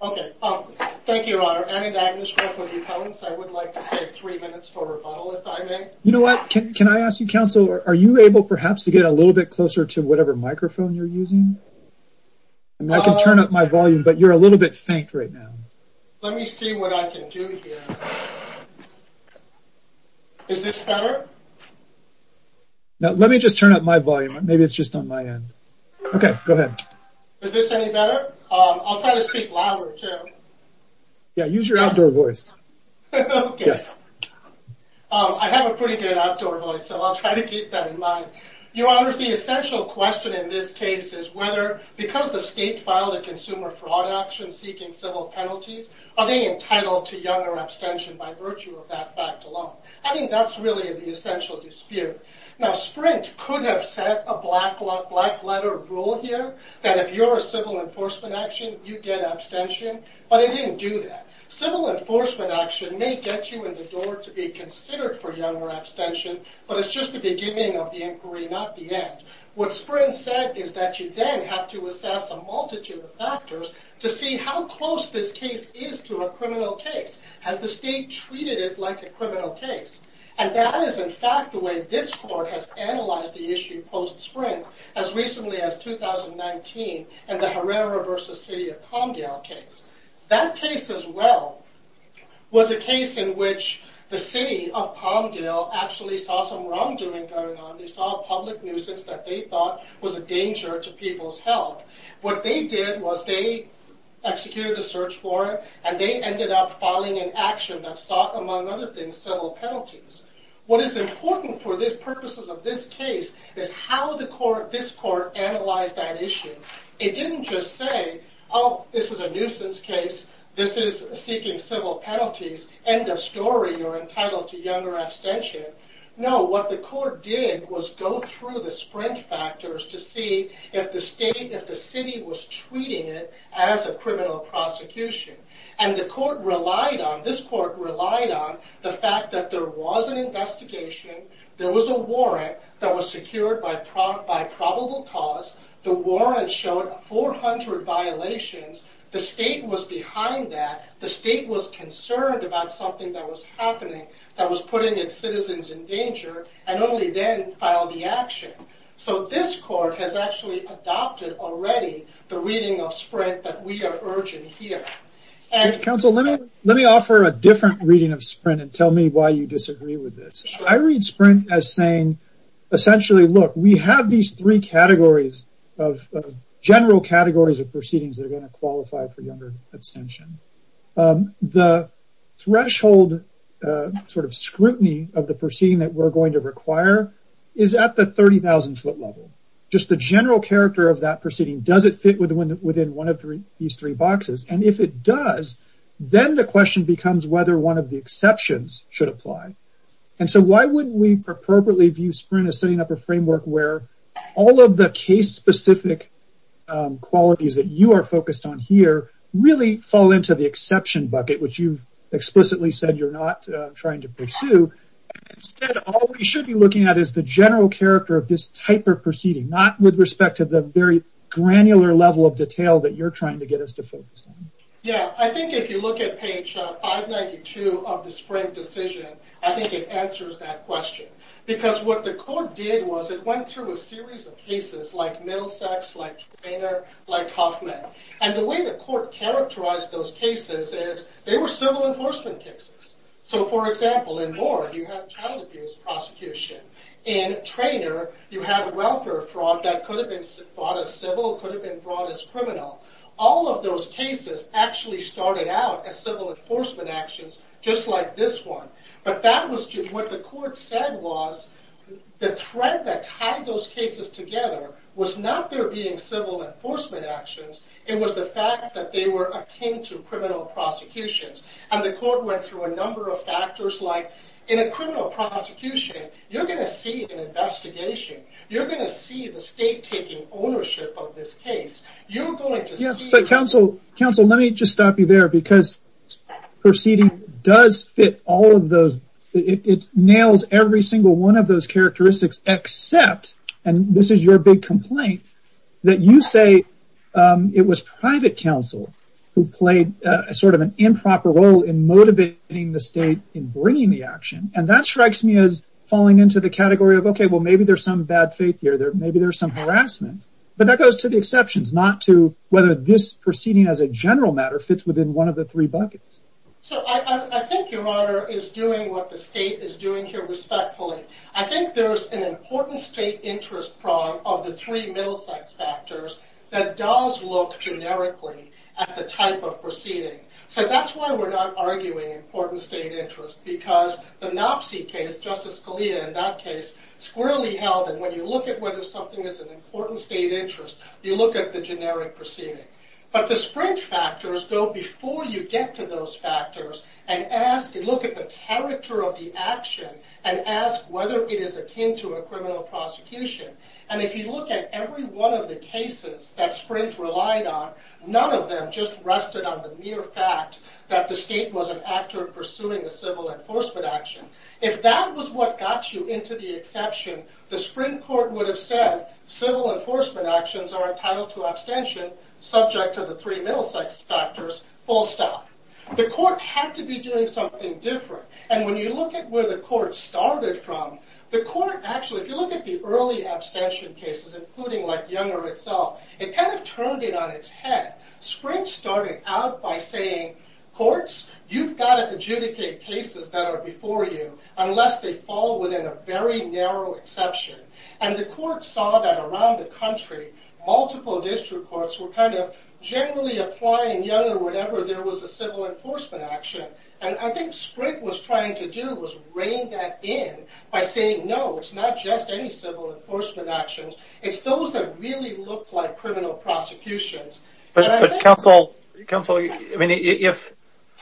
Okay, thank you. I would like to say three minutes for rebuttal if I may. You know what, can I ask you counsel, are you able perhaps to get a little bit closer to whatever microphone you're using? I can turn up my volume, but you're a little bit faint right now. Let me see what I can do here. Is this better? Now let me just turn up my volume. Maybe it's just on my end. Okay, go ahead. Is this any better? I'll try to speak louder too. Yeah, use your outdoor voice. I have a pretty good outdoor voice, so I'll try to keep that in mind. Your honors, the essential question in this case is whether, because the state filed a consumer fraud action seeking civil penalties, are they entitled to younger abstention by virtue of that fact alone? I think that's really the essential dispute. Now Sprint could have set a black letter rule here that if you're a civil enforcement action, you get abstention, but it didn't do that. Civil enforcement action may get you in the door to be considered for younger abstention, but it's just the beginning of the inquiry, not the end. What Sprint said is that you then have to assess a multitude of factors to see how close this case is to a criminal case. Has the state treated it like a criminal case? And that is in fact the way this court has analyzed the issue post-Sprint as recently as 2019 and the Herrera versus City of Palmdale case. That case as well was a case in which the city of Palmdale actually saw some wrongdoing going on. They saw a public nuisance that they thought was a danger to people's health. What they did was they executed a search warrant and they ended up in action that sought, among other things, civil penalties. What is important for the purposes of this case is how this court analyzed that issue. It didn't just say, oh this is a nuisance case, this is seeking civil penalties, end of story, you're entitled to younger abstention. No, what the court did was go through the Sprint factors to see if the state, if the city was treating it as a criminal prosecution. And the court relied on, this court relied on, the fact that there was an investigation, there was a warrant that was secured by probable cause, the warrant showed 400 violations, the state was behind that, the state was concerned about something that was happening that was putting its citizens in danger and only then filed the action. So this court has actually adopted already the reading of Sprint that we are urging here. Counsel, let me offer a different reading of Sprint and tell me why you disagree with this. I read Sprint as saying, essentially, look, we have these three categories of general categories of proceedings that are going to qualify for younger abstention. The threshold sort of scrutiny of the proceeding that we're going to require is at the 30,000 foot level. Just the general character of that proceeding, does it fit within one of these three boxes? And if it does, then the question becomes whether one of the exceptions should apply. And so why wouldn't we appropriately view Sprint as setting up a framework where all of the case-specific qualities that you are focused on here really fall into the exception bucket, which you've said all we should be looking at is the general character of this type of proceeding, not with respect to the very granular level of detail that you're trying to get us to focus on. Yeah, I think if you look at page 592 of the Sprint decision, I think it answers that question. Because what the court did was it went through a series of cases like Middlesex, like Traynor, like Huffman. And the way the court characterized those cases is they were civil enforcement cases. So for example, in Moore, you have child abuse prosecution. In Traynor, you have welfare fraud that could have been brought as civil, could have been brought as criminal. All of those cases actually started out as civil enforcement actions, just like this one. But what the court said was the thread that tied those cases together was not there being civil enforcement actions, it was the fact that they were akin to criminal prosecutions. And the court went through a number of factors, like in a criminal prosecution, you're going to see an investigation. You're going to see the state taking ownership of this case. You're going to see... Yes, but counsel, counsel, let me just stop you there because proceeding does fit all of those. It nails every single one of those characteristics, except, and this is your big complaint, that you say it was private counsel who played a sort of improper role in motivating the state in bringing the action. And that strikes me as falling into the category of, okay, well, maybe there's some bad faith here. Maybe there's some harassment, but that goes to the exceptions, not to whether this proceeding as a general matter fits within one of the three buckets. So I think your honor is doing what the state is doing here respectfully. I think there's an important state interest problem of the three middle sex factors that does look generically at the type of proceeding. So that's why we're not arguing important state interest, because the Knopsey case, Justice Scalia in that case, squarely held that when you look at whether something is an important state interest, you look at the generic proceeding. But the sprint factors go before you get to those factors and ask, look at the character of the action and ask whether it is akin to a criminal prosecution. And if you look at every one of the cases that Sprint relied on, none of them just rested on the mere fact that the state was an actor pursuing a civil enforcement action. If that was what got you into the exception, the Sprint court would have said civil enforcement actions are entitled to abstention, subject to the three middle sex factors, full stop. The court had to be doing something different. And when you look at where the court started from, the court actually, if you look at the early abstention cases, including like Younger itself, it kind of turned it on its head. Sprint started out by saying, courts, you've got to adjudicate cases that are before you unless they fall within a very narrow exception. And the court saw that around the country, multiple district courts were kind of generally applying Younger whenever there was a civil enforcement action. And I think Sprint was trying to do was rein that in by saying, no, it's not just any civil enforcement actions. It's those that really look like criminal prosecutions. But counsel, I mean, if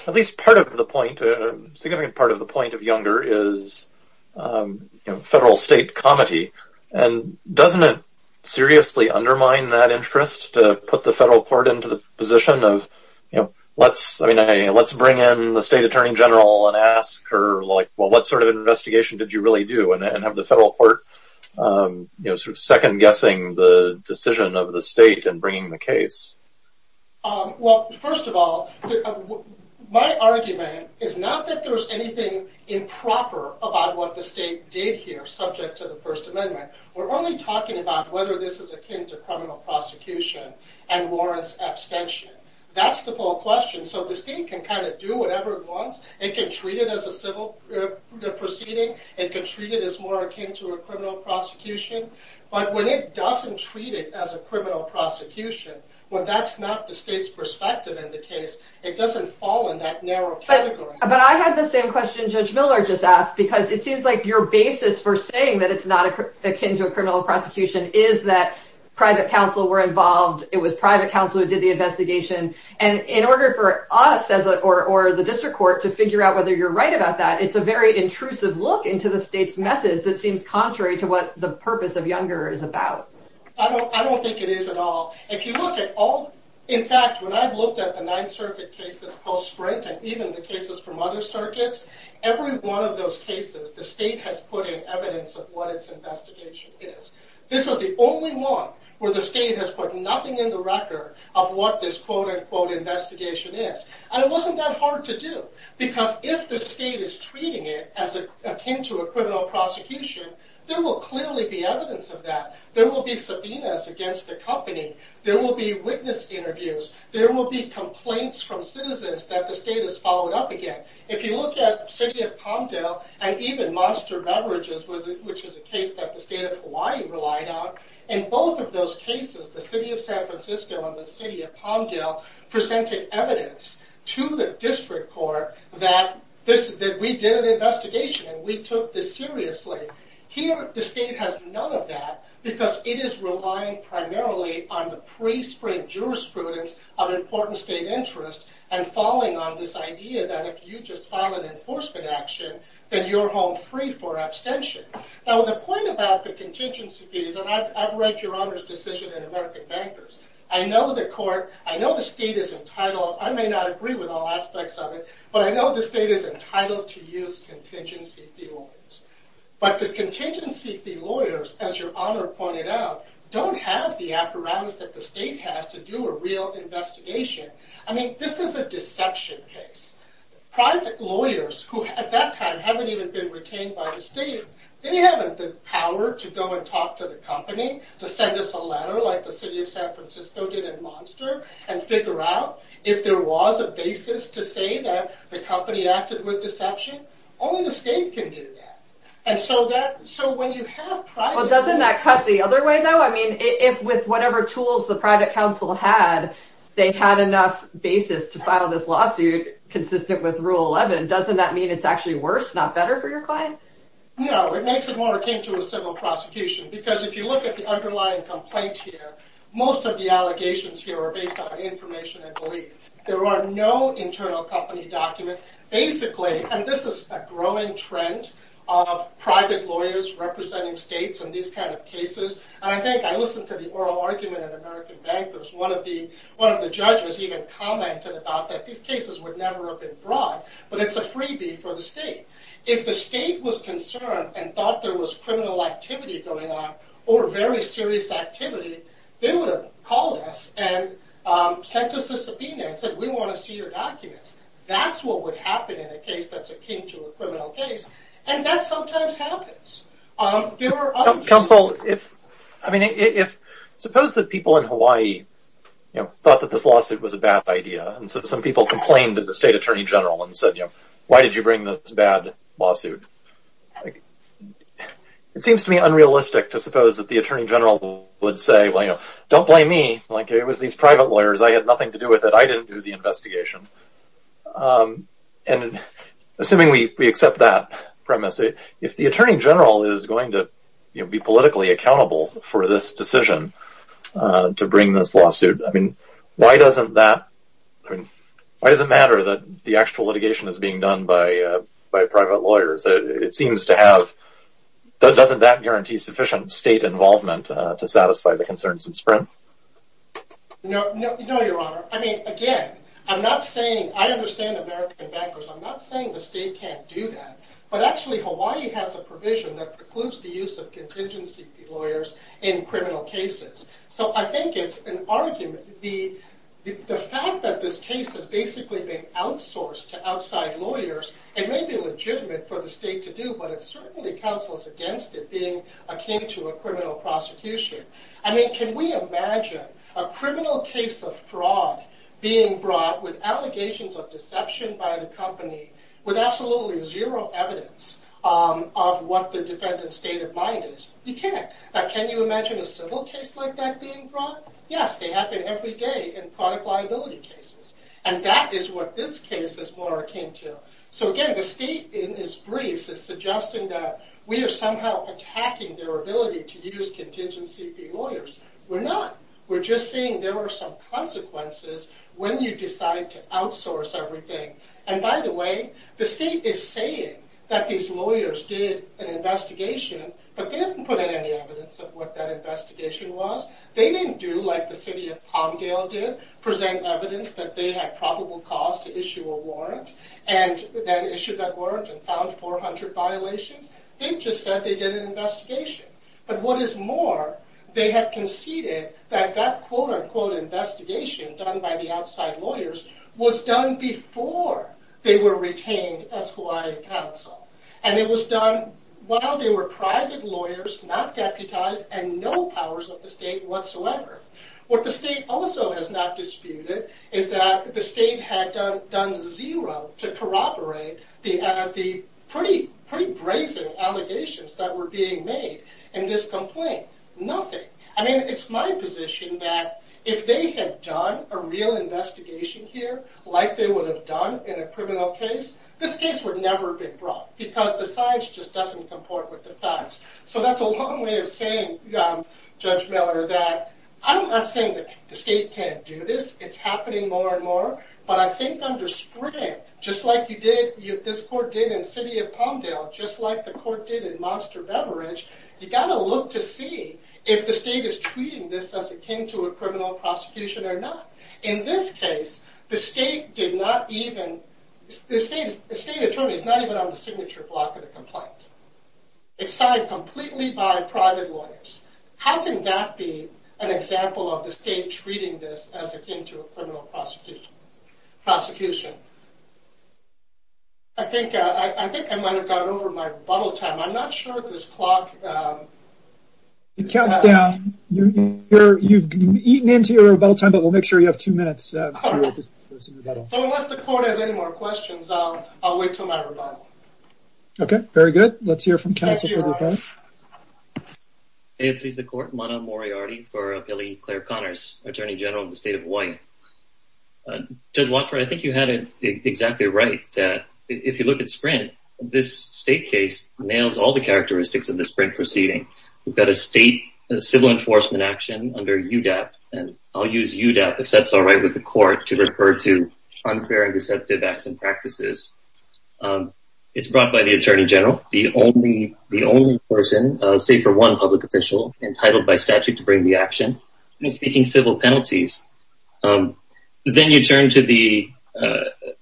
at least part of the point, a significant part of the point of Younger is, you know, federal state comedy. And doesn't it seriously undermine that interest to put the federal court into the position of, you know, let's, I mean, let's bring in the state attorney general and ask her like, well, what sort of investigation did you really do and have the federal court, you know, sort of second guessing the decision of the state and bringing the case? Well, first of all, my argument is not that there's anything improper about what the state did here, subject to the First Amendment. We're only talking about whether this is akin to criminal prosecution and warrants abstention. That's the full question. So the state can kind of treat it as more akin to a criminal prosecution, but when it doesn't treat it as a criminal prosecution, when that's not the state's perspective in the case, it doesn't fall in that narrow category. But I had the same question Judge Miller just asked, because it seems like your basis for saying that it's not akin to a criminal prosecution is that private counsel were involved. It was private counsel who did the investigation. And in order for us as or the district court to figure out whether you're right about that, it's a very intrusive look into the state's methods. It seems contrary to what the purpose of Younger is about. I don't think it is at all. If you look at all, in fact, when I've looked at the Ninth Circuit cases post-Sprint and even the cases from other circuits, every one of those cases, the state has put in evidence of what its investigation is. This is the only one where the state has put nothing in the record of what this quote-unquote investigation is. And it wasn't that hard to do, because if the state is treating it as akin to a criminal prosecution, there will clearly be evidence of that. There will be subpoenas against the company. There will be witness interviews. There will be complaints from citizens that the state has followed up again. If you look at the city of Palmdale and even Monster Beverages, which is a case that the state of Hawaii relied on, in both of those cases, the city of San Francisco and the evidence to the district court that we did an investigation and we took this seriously. Here, the state has none of that because it is relying primarily on the pre-Sprint jurisprudence of important state interests and falling on this idea that if you just file an enforcement action, then you're home free for abstention. Now, the point about the contingency fees, and I've read your Honor's decision in American Bankers. I know the court, I know the state is entitled, I may not agree with all aspects of it, but I know the state is entitled to use contingency fee lawyers. But the contingency fee lawyers, as your Honor pointed out, don't have the apparatus that the state has to do a real investigation. I mean, this is a deception case. Private lawyers who, at that time, haven't even been retained by the state, they haven't the power to go and talk to the company to send us a letter, like the city of San Francisco did at Monster, and figure out if there was a basis to say that the company acted with deception. Only the state can do that. And so that, so when you have private... Well, doesn't that cut the other way, though? I mean, if with whatever tools the private council had, they had enough basis to file this lawsuit consistent with Rule 11, doesn't that mean it's actually worse, not better for your client? No, it makes it more akin to a civil prosecution, because if you look at the underlying complaint here, most of the allegations here are based on information, I believe. There are no internal company documents. Basically, and this is a growing trend of private lawyers representing states in these kind of cases, and I think I listened to the oral argument at American Bankers. One of the judges even commented about that these cases would never have been brought, but it's a freebie for the state. If the state was concerned and thought there was criminal activity going on, or very serious activity, they would have called us and sent us a subpoena and said, we want to see your documents. That's what would happen in a case that's akin to a criminal case, and that sometimes happens. There are other... Counsel, if, I mean, if, suppose that people in Hawaii, you know, thought that this lawsuit was a bad idea, and so some people complained to the state attorney general and said, you know, why did you bring this bad lawsuit? It seems to me unrealistic to suppose that the attorney general would say, well, you know, don't blame me. Like, it was these private lawyers. I had nothing to do with it. I didn't do the investigation. And assuming we accept that premise, if the attorney general is going to be politically accountable for this decision to bring this lawsuit, I mean, why doesn't that, I mean, why does it matter that the actual litigation is being done by private lawyers? It seems to have, doesn't that guarantee sufficient state involvement to satisfy the concerns in Sprint? No, no, no, your honor. I mean, again, I'm not saying, I understand American bankers. I'm not saying the state can't do that, but actually Hawaii has a provision that precludes the use of contingency lawyers in criminal cases. So I think it's an argument. The fact that this case has basically been outsourced to outside lawyers, it may be legitimate for the state to do, but it certainly counsels against it being akin to a criminal prosecution. I mean, can we imagine a criminal case of fraud being brought with allegations of deception by the company, with absolutely zero evidence of what the defendant's state of mind is? You can't. Now, can you imagine a civil case like that being brought? Yes, they happen every day in product liability cases. And that is what this case is more akin to. So again, the state in its briefs is suggesting that we are somehow attacking their ability to use contingency lawyers. We're not. We're just seeing there are some consequences when you decide to outsource everything. And by the state is saying that these lawyers did an investigation, but they didn't put in any evidence of what that investigation was. They didn't do like the city of Palmdale did, present evidence that they had probable cause to issue a warrant, and then issued that warrant and found 400 violations. They just said they did an investigation. But what is more, they have conceded that that quote-unquote investigation done by the outside lawyers was done before they were retained as Hawaii Council. And it was done while they were private lawyers, not deputized, and no powers of the state whatsoever. What the state also has not disputed is that the state had done zero to corroborate the pretty brazen allegations that were being made in this complaint. Nothing. I mean, it's my position that if they had done a real investigation here like they would have done in a criminal case, this case would never have been brought because the science just doesn't comport with the facts. So that's a long way of saying, Judge Miller, that I'm not saying that the state can't do this. It's happening more and more, but I think under Sprint, just like you did, this court did in the city of Palmdale, just like the court did in Monster Beverage, you got to look to see if the state is treating this as akin to a criminal prosecution or not. In this case, the state attorney is not even on the signature block of the complaint. It's signed completely by private lawyers. How can that be an example of the state treating this as akin to a criminal prosecution? I think I might have gotten over my rebuttal time. I'm not sure if this clock... It counts down. You've eaten into your rebuttal time, but we'll make sure you have two minutes. So unless the court has any more questions, I'll wait till my rebuttal. Okay, very good. Let's hear from counsel. May it please the court, Mano Moriarty for L.E. Clare Connors, Attorney General of the State of This state case nails all the characteristics of the Sprint proceeding. We've got a state civil enforcement action under UDAP, and I'll use UDAP, if that's all right with the court, to refer to unfair and deceptive acts and practices. It's brought by the attorney general, the only person, say for one public official, entitled by statute to bring the action, seeking civil penalties. Then you turn to the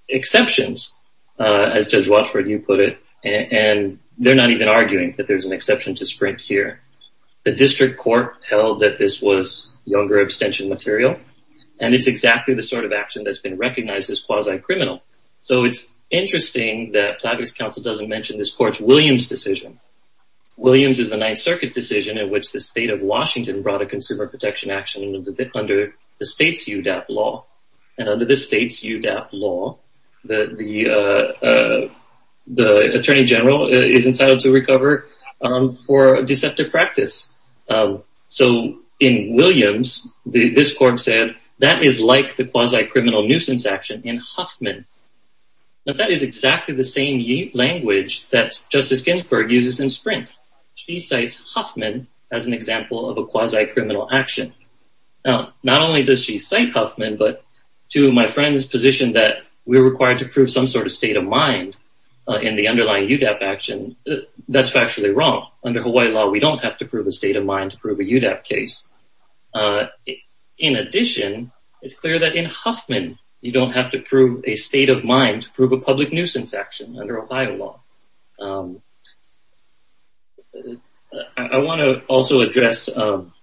exceptions, as Judge Watford, you put it, and they're not even arguing that there's an exception to Sprint here. The district court held that this was younger abstention material, and it's exactly the sort of action that's been recognized as quasi-criminal. So it's interesting that Platt v. Council doesn't mention this court's Williams decision. Williams is the Ninth Circuit decision in which the state of Washington brought consumer protection action under the state's UDAP law, and under the state's UDAP law, the attorney general is entitled to recover for deceptive practice. So in Williams, this court said that is like the quasi-criminal nuisance action in Huffman. Now that is exactly the same language that Justice Ginsburg uses in Sprint. She cites Huffman as an example of quasi-criminal action. Now, not only does she cite Huffman, but to my friend's position that we're required to prove some sort of state of mind in the underlying UDAP action, that's factually wrong. Under Hawaii law, we don't have to prove a state of mind to prove a UDAP case. In addition, it's clear that in Huffman, you don't have to prove a state of mind to prove a public nuisance action under Ohio law. I want to also address one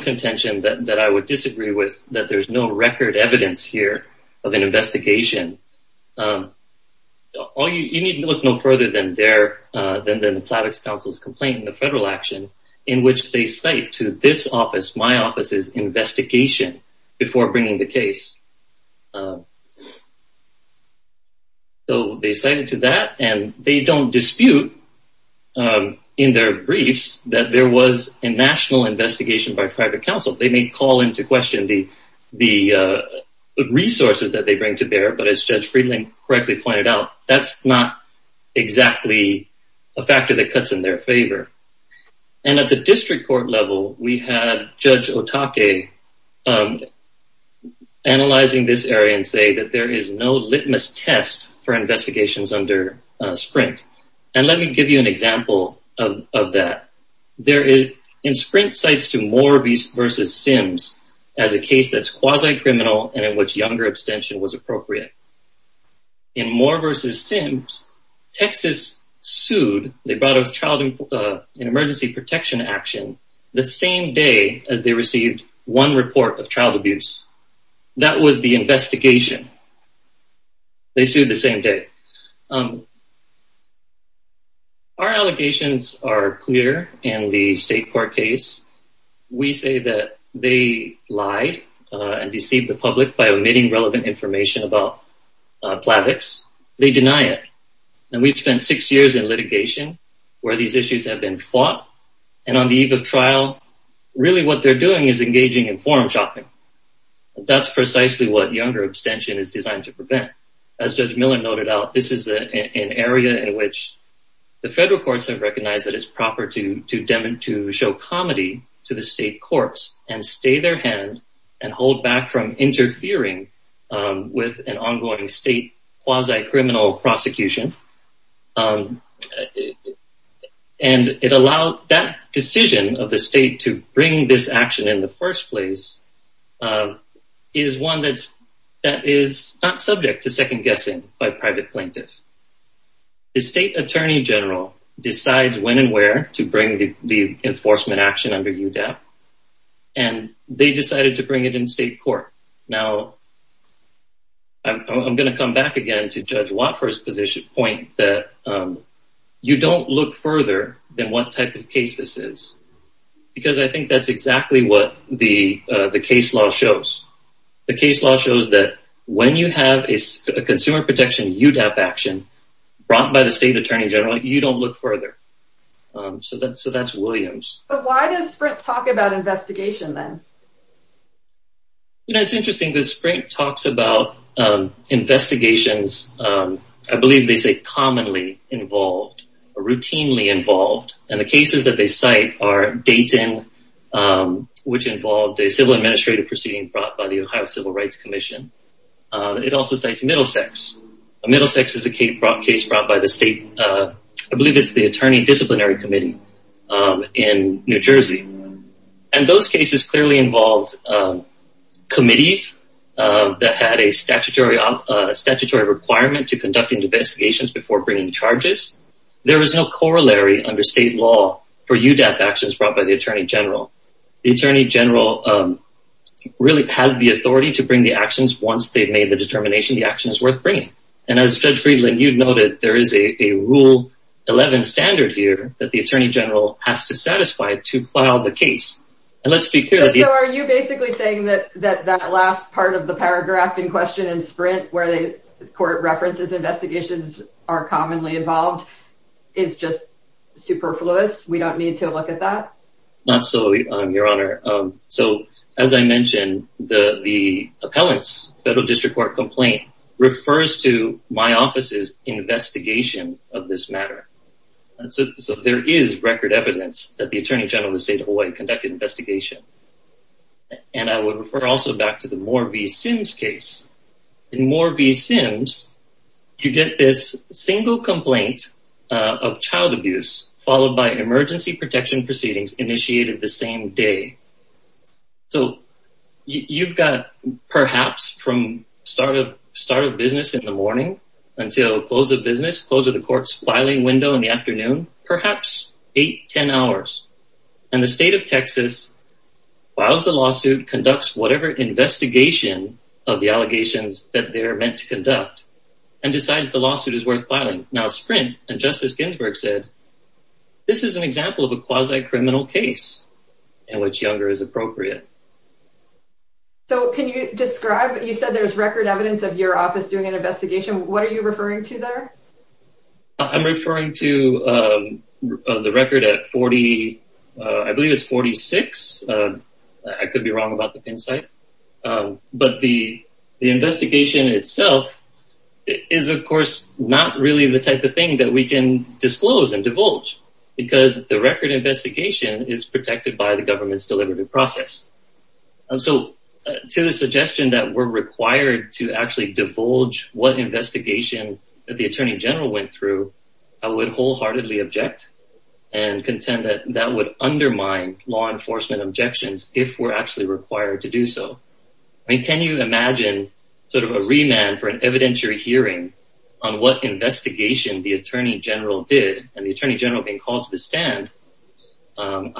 contention that I would disagree with, that there's no record evidence here of an investigation. You need to look no further than the Platt-X counsel's complaint in the federal action in which they cite to this office, investigation, before bringing the case. So they cited to that, and they don't dispute in their briefs that there was a national investigation by private counsel. They may call into question the resources that they bring to bear, but as Judge Friedland correctly pointed out, that's not exactly a factor that cuts in their favor. And at the district court level, we have Judge Otake analyzing this area and say that there is no litmus test for investigations under Sprint. And let me give you an example of that. In Sprint cites to Moore v. Sims as a case that's quasi-criminal and in which younger abstention was appropriate. In Moore v. Sims, Texas sued, they brought a child in emergency protection action the same day as they received one report of child abuse. That was the investigation. They sued the same day. Our allegations are clear in the state court case. We say that they lied and deceived the public by spending six years in litigation where these issues have been fought. And on the eve of trial, really what they're doing is engaging in forum shopping. That's precisely what younger abstention is designed to prevent. As Judge Miller noted out, this is an area in which the federal courts have recognized that it's proper to show comedy to the state courts and stay their hand and hold back from interfering with an ongoing state quasi-criminal prosecution. And it allowed that decision of the state to bring this action in the first place is one that is not subject to second-guessing by private plaintiffs. The state attorney general decides when and where to bring the enforcement action under UDAP. And they decided to bring it in state court. Now, I'm going to come back again to Judge Watford's point that you don't look further than what type of case this is. Because I think that's exactly what the case law shows. The case law shows that when you have a consumer protection UDAP action brought by the state attorney general, you don't look further. So that's Williams. But why does Sprint talk about investigation then? You know, it's interesting that Sprint talks about investigations. I believe they say commonly involved or routinely involved. And the cases that they cite are Dayton, which involved a civil administrative proceeding brought by the Ohio Civil Rights Commission. It also cites Middlesex. Middlesex is a case brought by the state, I believe it's the case. And those cases clearly involved committees that had a statutory requirement to conduct investigations before bringing charges. There is no corollary under state law for UDAP actions brought by the attorney general. The attorney general really has the authority to bring the actions once they've made the determination the action is worth bringing. And as Judge Friedland noted, there is a rule 11 standard here that the attorney general has to satisfy to file the case. So are you basically saying that that last part of the paragraph in question in Sprint, where the court references investigations are commonly involved, is just superfluous? We don't need to look at that? Not so, Your Honor. So as I mentioned, the appellate's federal district court complaint refers to my office's investigation of this matter. So there is record evidence that the attorney general of the state of Hawaii conducted an investigation. And I would refer also back to the Moore v. Sims case. In Moore v. Sims, you get this single complaint of child abuse followed by emergency protection proceedings initiated the same day. So you've got perhaps from start of business in the morning until close of business, close of the court's filing window in the afternoon, perhaps eight, 10 hours. And the state of Texas files the lawsuit, conducts whatever investigation of the allegations that they're meant to conduct, and decides the lawsuit is worth filing. Now Sprint, and Justice Ginsburg said, this is an example of a quasi-criminal case in which younger is appropriate. So can you describe, you said there's record evidence of your office doing an investigation, what are you referring to there? I'm referring to the record at 40, I believe it's 46. I could be wrong about the pin site. But the investigation itself is of course not really the type of thing that we can disclose and divulge, because the record investigation is protected by the government's deliberative process. So to the suggestion that we're required to actually divulge what investigation that the Attorney General went through, I would wholeheartedly object and contend that that would undermine law enforcement objections if we're actually required to do so. I mean, can you imagine sort of a remand for an evidentiary hearing on what investigation the Attorney General did and the Attorney General being called to the But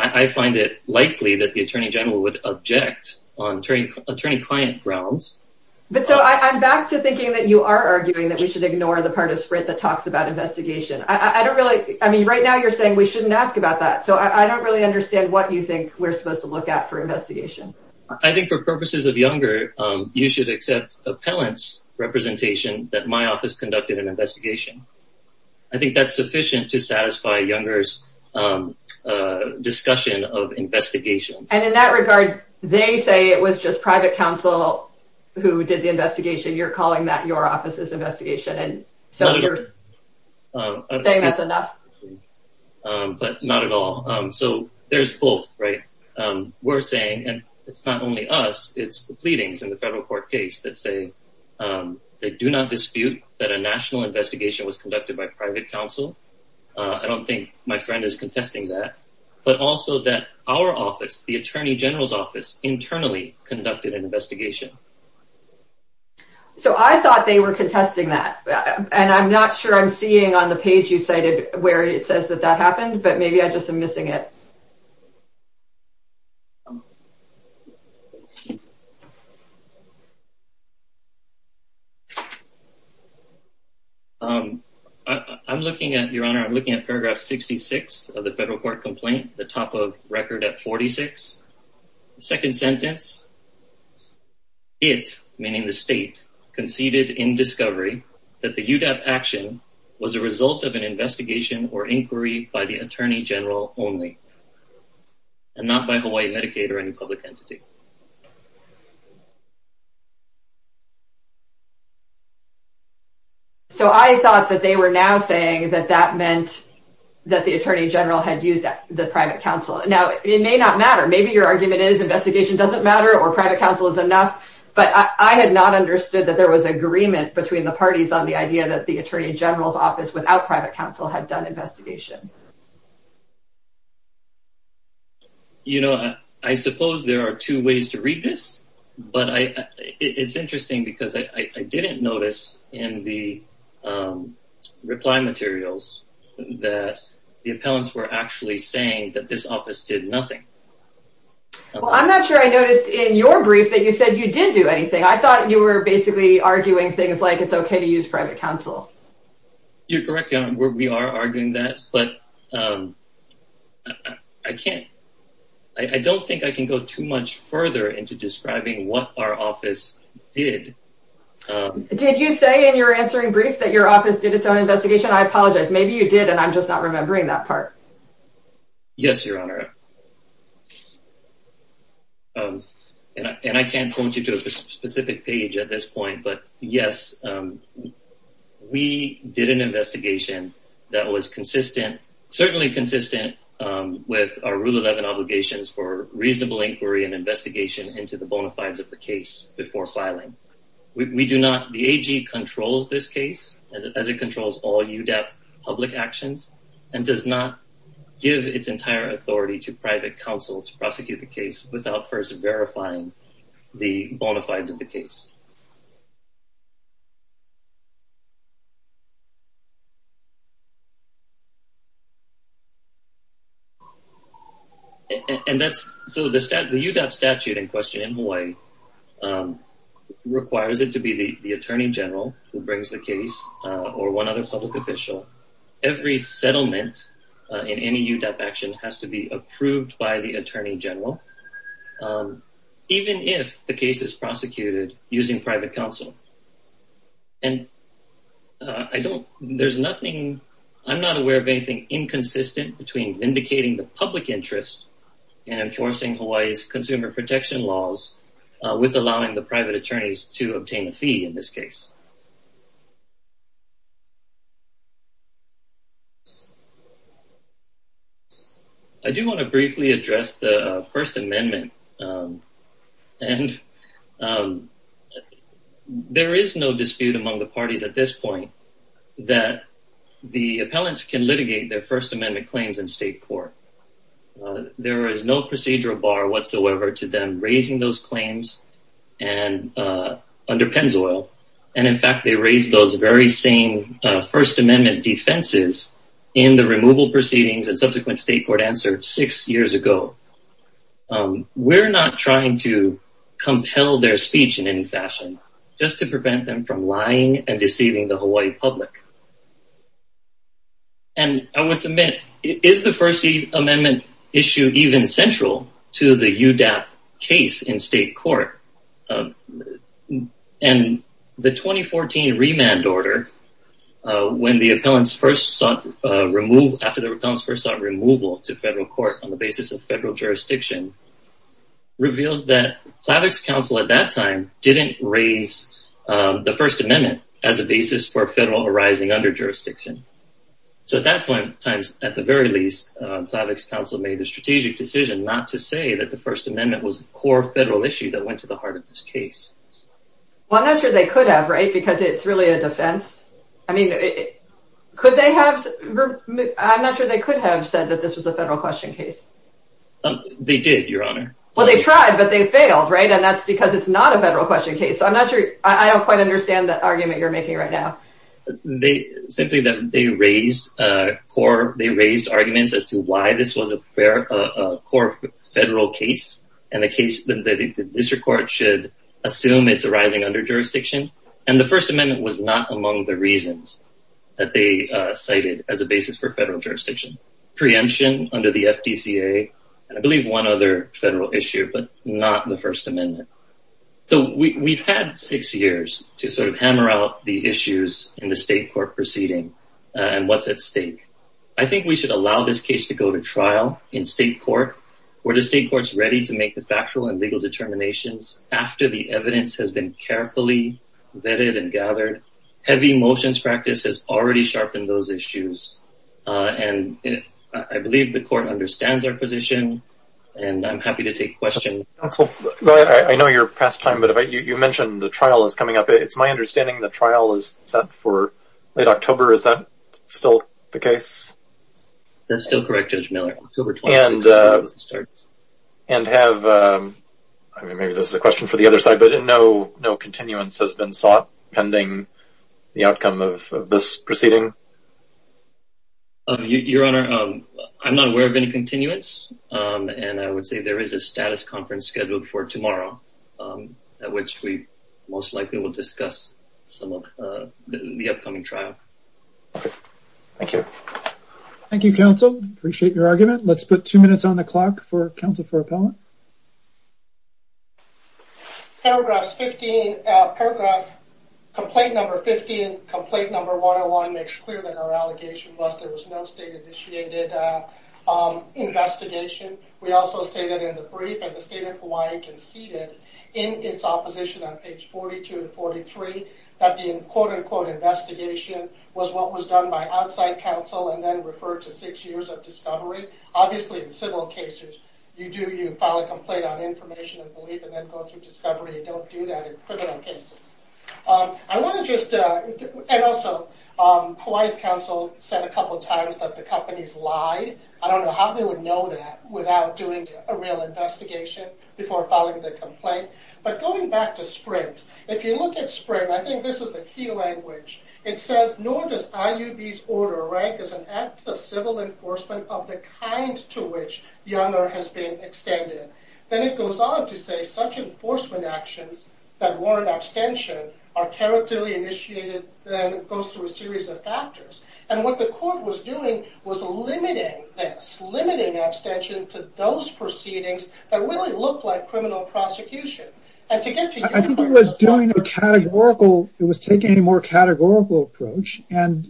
so I'm back to thinking that you are arguing that we should ignore the part of Sprint that talks about investigation. I don't really, I mean, right now you're saying we shouldn't ask about that. So I don't really understand what you think we're supposed to look at for investigation. I think for purposes of Younger, you should accept appellant's representation that my office conducted an investigation. I think that's sufficient to satisfy Younger's discussion of investigation. And in that regard, they say it was just private counsel who did the investigation. You're calling that your office's investigation. And so you're saying that's enough. But not at all. So there's both, right? We're saying, and it's not only us, it's the pleadings in the federal court case that say they do not dispute that a national investigation was conducted by private counsel. I don't think my friend is contesting that. But also that our office, the Attorney General's office internally conducted an investigation. So I thought they were contesting that. And I'm not sure I'm seeing on the page you cited where it says that that happened, but maybe I just am missing it. I'm looking at, Your Honor, I'm looking at paragraph 66 of the federal court complaint, the top of record at 46. The second sentence, it, meaning the state, conceded in discovery that the UDAP action was a result of an investigation or inquiry by the Attorney General only. And not by Hawaii Medicaid, but by the UDAP itself. And I'm not sure I'm seeing that. So I thought that they were now saying that that meant that the Attorney General had used the private counsel. Now, it may not matter. Maybe your argument is investigation doesn't matter or private counsel is enough. But I had not understood that there was agreement between the parties on the idea that the Attorney General's office without private counsel had done investigation. You know, I suppose there are two ways to read this, but it's interesting because I didn't notice in the reply materials that the appellants were actually saying that this office did nothing. Well, I'm not sure I noticed in your brief that you said you did do anything. I thought you were basically arguing things like it's okay to use private counsel. You're correct. We are arguing that. But I can't. I don't think I can go too much further into describing what our office did. Did you say in your answering brief that your office did its own investigation? I apologize. Maybe you did. And I'm just not remembering that part. Yes, Your Honor. And I can't point you to a specific page at this point. But yes, um, we did an investigation that was consistent, certainly consistent with our Rule 11 obligations for reasonable inquiry and investigation into the bona fides of the case before filing. We do not, the AG controls this case as it controls all UDAP public actions and does not give its entire authority to private counsel to prosecute the case without first verifying the bona fides of the case. And that's, so the UDAP statute in question in Hawaii requires it to be the Attorney General who brings the case or one other public official. Every settlement in any UDAP action has to be approved by the Attorney General, even if the case is prosecuted using private counsel. And I don't, there's nothing, I'm not aware of anything inconsistent between vindicating the public interest in enforcing Hawaii's consumer protection laws with allowing the private attorneys to obtain a fee in this case. I do want to briefly address the First Amendment. And there is no dispute among the parties at this point that the appellants can litigate their First Amendment claims in state court. There is no dispute among the parties at this point that the appellants can litigate their First Amendment claims in state court. And in fact, they raised those very same First Amendment defenses in the removal proceedings and subsequent state court answer six years ago. We're not trying to compel their speech in any fashion just to prevent them from lying and deceiving the Hawaii public. And I would submit, is the First Amendment issue even central to the UDAP case in state court? And the 2014 remand order, when the appellants first sought removal, after the appellants first sought removal to federal court on the basis of federal jurisdiction, reveals that FLAVC's counsel at that time didn't raise the First Amendment as a basis for federal arising under jurisdiction. So at that point in time, at the very least, FLAVC's counsel made a strategic decision not to say that the First Amendment was a core federal issue that went to the heart of this case. Well, I'm not sure they could have, right? Because it's really a defense. I mean, could they have? I'm not sure they could have said that this was a federal question case. They did, Your Honor. Well, they tried, but they failed, right? And that's because it's not a federal question case. So I'm not sure. I don't quite understand the argument you're making right now. Simply that they raised arguments as to why this was a core federal case, and the case that the district court should assume it's arising under jurisdiction. And the First Amendment was not among the reasons that they cited as a basis for federal jurisdiction. Preemption under the FDCA, and I believe one other federal issue, but not the First Amendment. So we've had six years to sort of hammer out the issues in the state court proceeding and what's at stake. I think we should allow this case to go to trial in state court, where the state court's ready to make the factual and legal determinations after the evidence has been carefully vetted and gathered. Heavy motions practice has already sharpened those issues. And I believe the court understands our position, and I'm happy to take questions. Counsel, I know you're past time, but you mentioned the trial is coming up. It's my understanding the trial is set for late October. Is that still the case? That's still correct, Judge Miller. October 26th is when it starts. And have, I mean, maybe this is a question for the other side, but no, no continuance has been sought pending the outcome of this proceeding? Your Honor, I'm not aware of any continuance, and I would say there is a status conference scheduled for tomorrow, at which we most likely will discuss some of the upcoming trial. Thank you. Thank you, counsel. Appreciate your argument. Let's put two minutes on the clock for counsel for appellant. Paragraphs 15, paragraph complaint number 15, complaint number 101 makes clear that our allegation was there was no state-initiated investigation. We also say that the state of Hawaii conceded in its opposition on page 42 and 43 that the quote-unquote investigation was what was done by outside counsel and then referred to six years of discovery. Obviously in civil cases, you do, you file a complaint on information and belief and then go through discovery. You don't do that in criminal cases. I want to just, and also Hawaii's counsel said a couple of times that the companies lie. I don't know how they would know that without doing a real investigation before filing the complaint. But going back to Sprint, if you look at Sprint, I think this is the key language. It says, nor does IUB's order rank as an act of civil enforcement of the kind to which the honor has been extended. Then it goes on to say such enforcement actions that warrant abstention are characterly initiated, then it goes through a series of factors. What the court was doing was limiting this, limiting abstention to those proceedings that really looked like criminal prosecution. I think it was doing a categorical, it was taking a more categorical approach.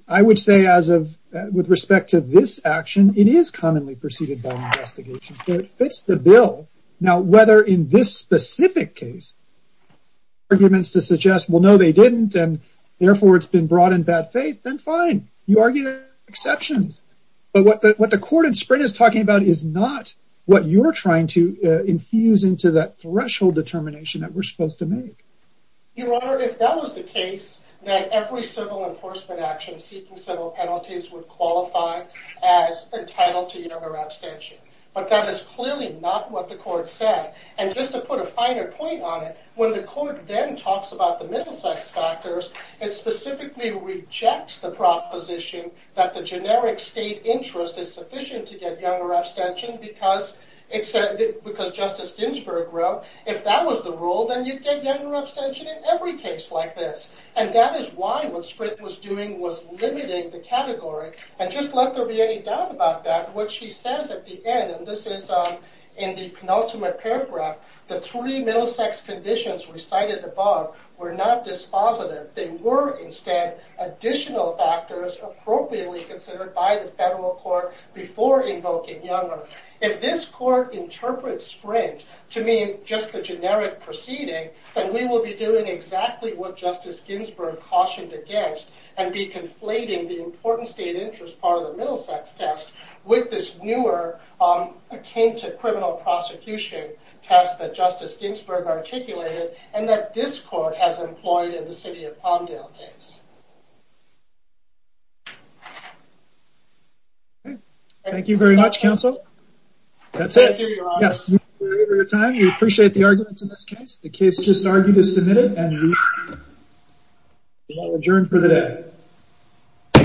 I would say as of with respect to this action, it is commonly preceded by an investigation. It fits the bill. Now whether in this specific case, arguments to suggest, well no they didn't and therefore it's been brought in bad faith, then you argue exceptions. But what the court in Sprint is talking about is not what you're trying to infuse into that threshold determination that we're supposed to make. Your honor, if that was the case, then every civil enforcement action seeking civil penalties would qualify as entitled to your abstention. But that is clearly not what the court said. And just to put a finer point on it, when the court then talks about the middle sex factors, it specifically rejects the proposition that the generic state interest is sufficient to get younger abstention because it said, because Justice Ginsburg wrote, if that was the rule, then you'd get younger abstention in every case like this. And that is why what Sprint was doing was limiting the category. And just let there be any doubt about that. What she says at the end, and this is in the penultimate paragraph, the three middle sex conditions recited above were not dispositive. They were instead additional factors appropriately considered by the federal court before invoking younger. If this court interprets Sprint to mean just the generic proceeding, then we will be doing exactly what Justice Ginsburg cautioned against and be conflating the important state interest part of the middle sex test with this newer, akin to criminal prosecution test that Justice Ginsburg articulated and that this court has employed in the city of Palmdale case. Thank you very much, counsel. That's it. Yes, we appreciate the arguments in this case. The case just argued is submitted and we will adjourn for the day.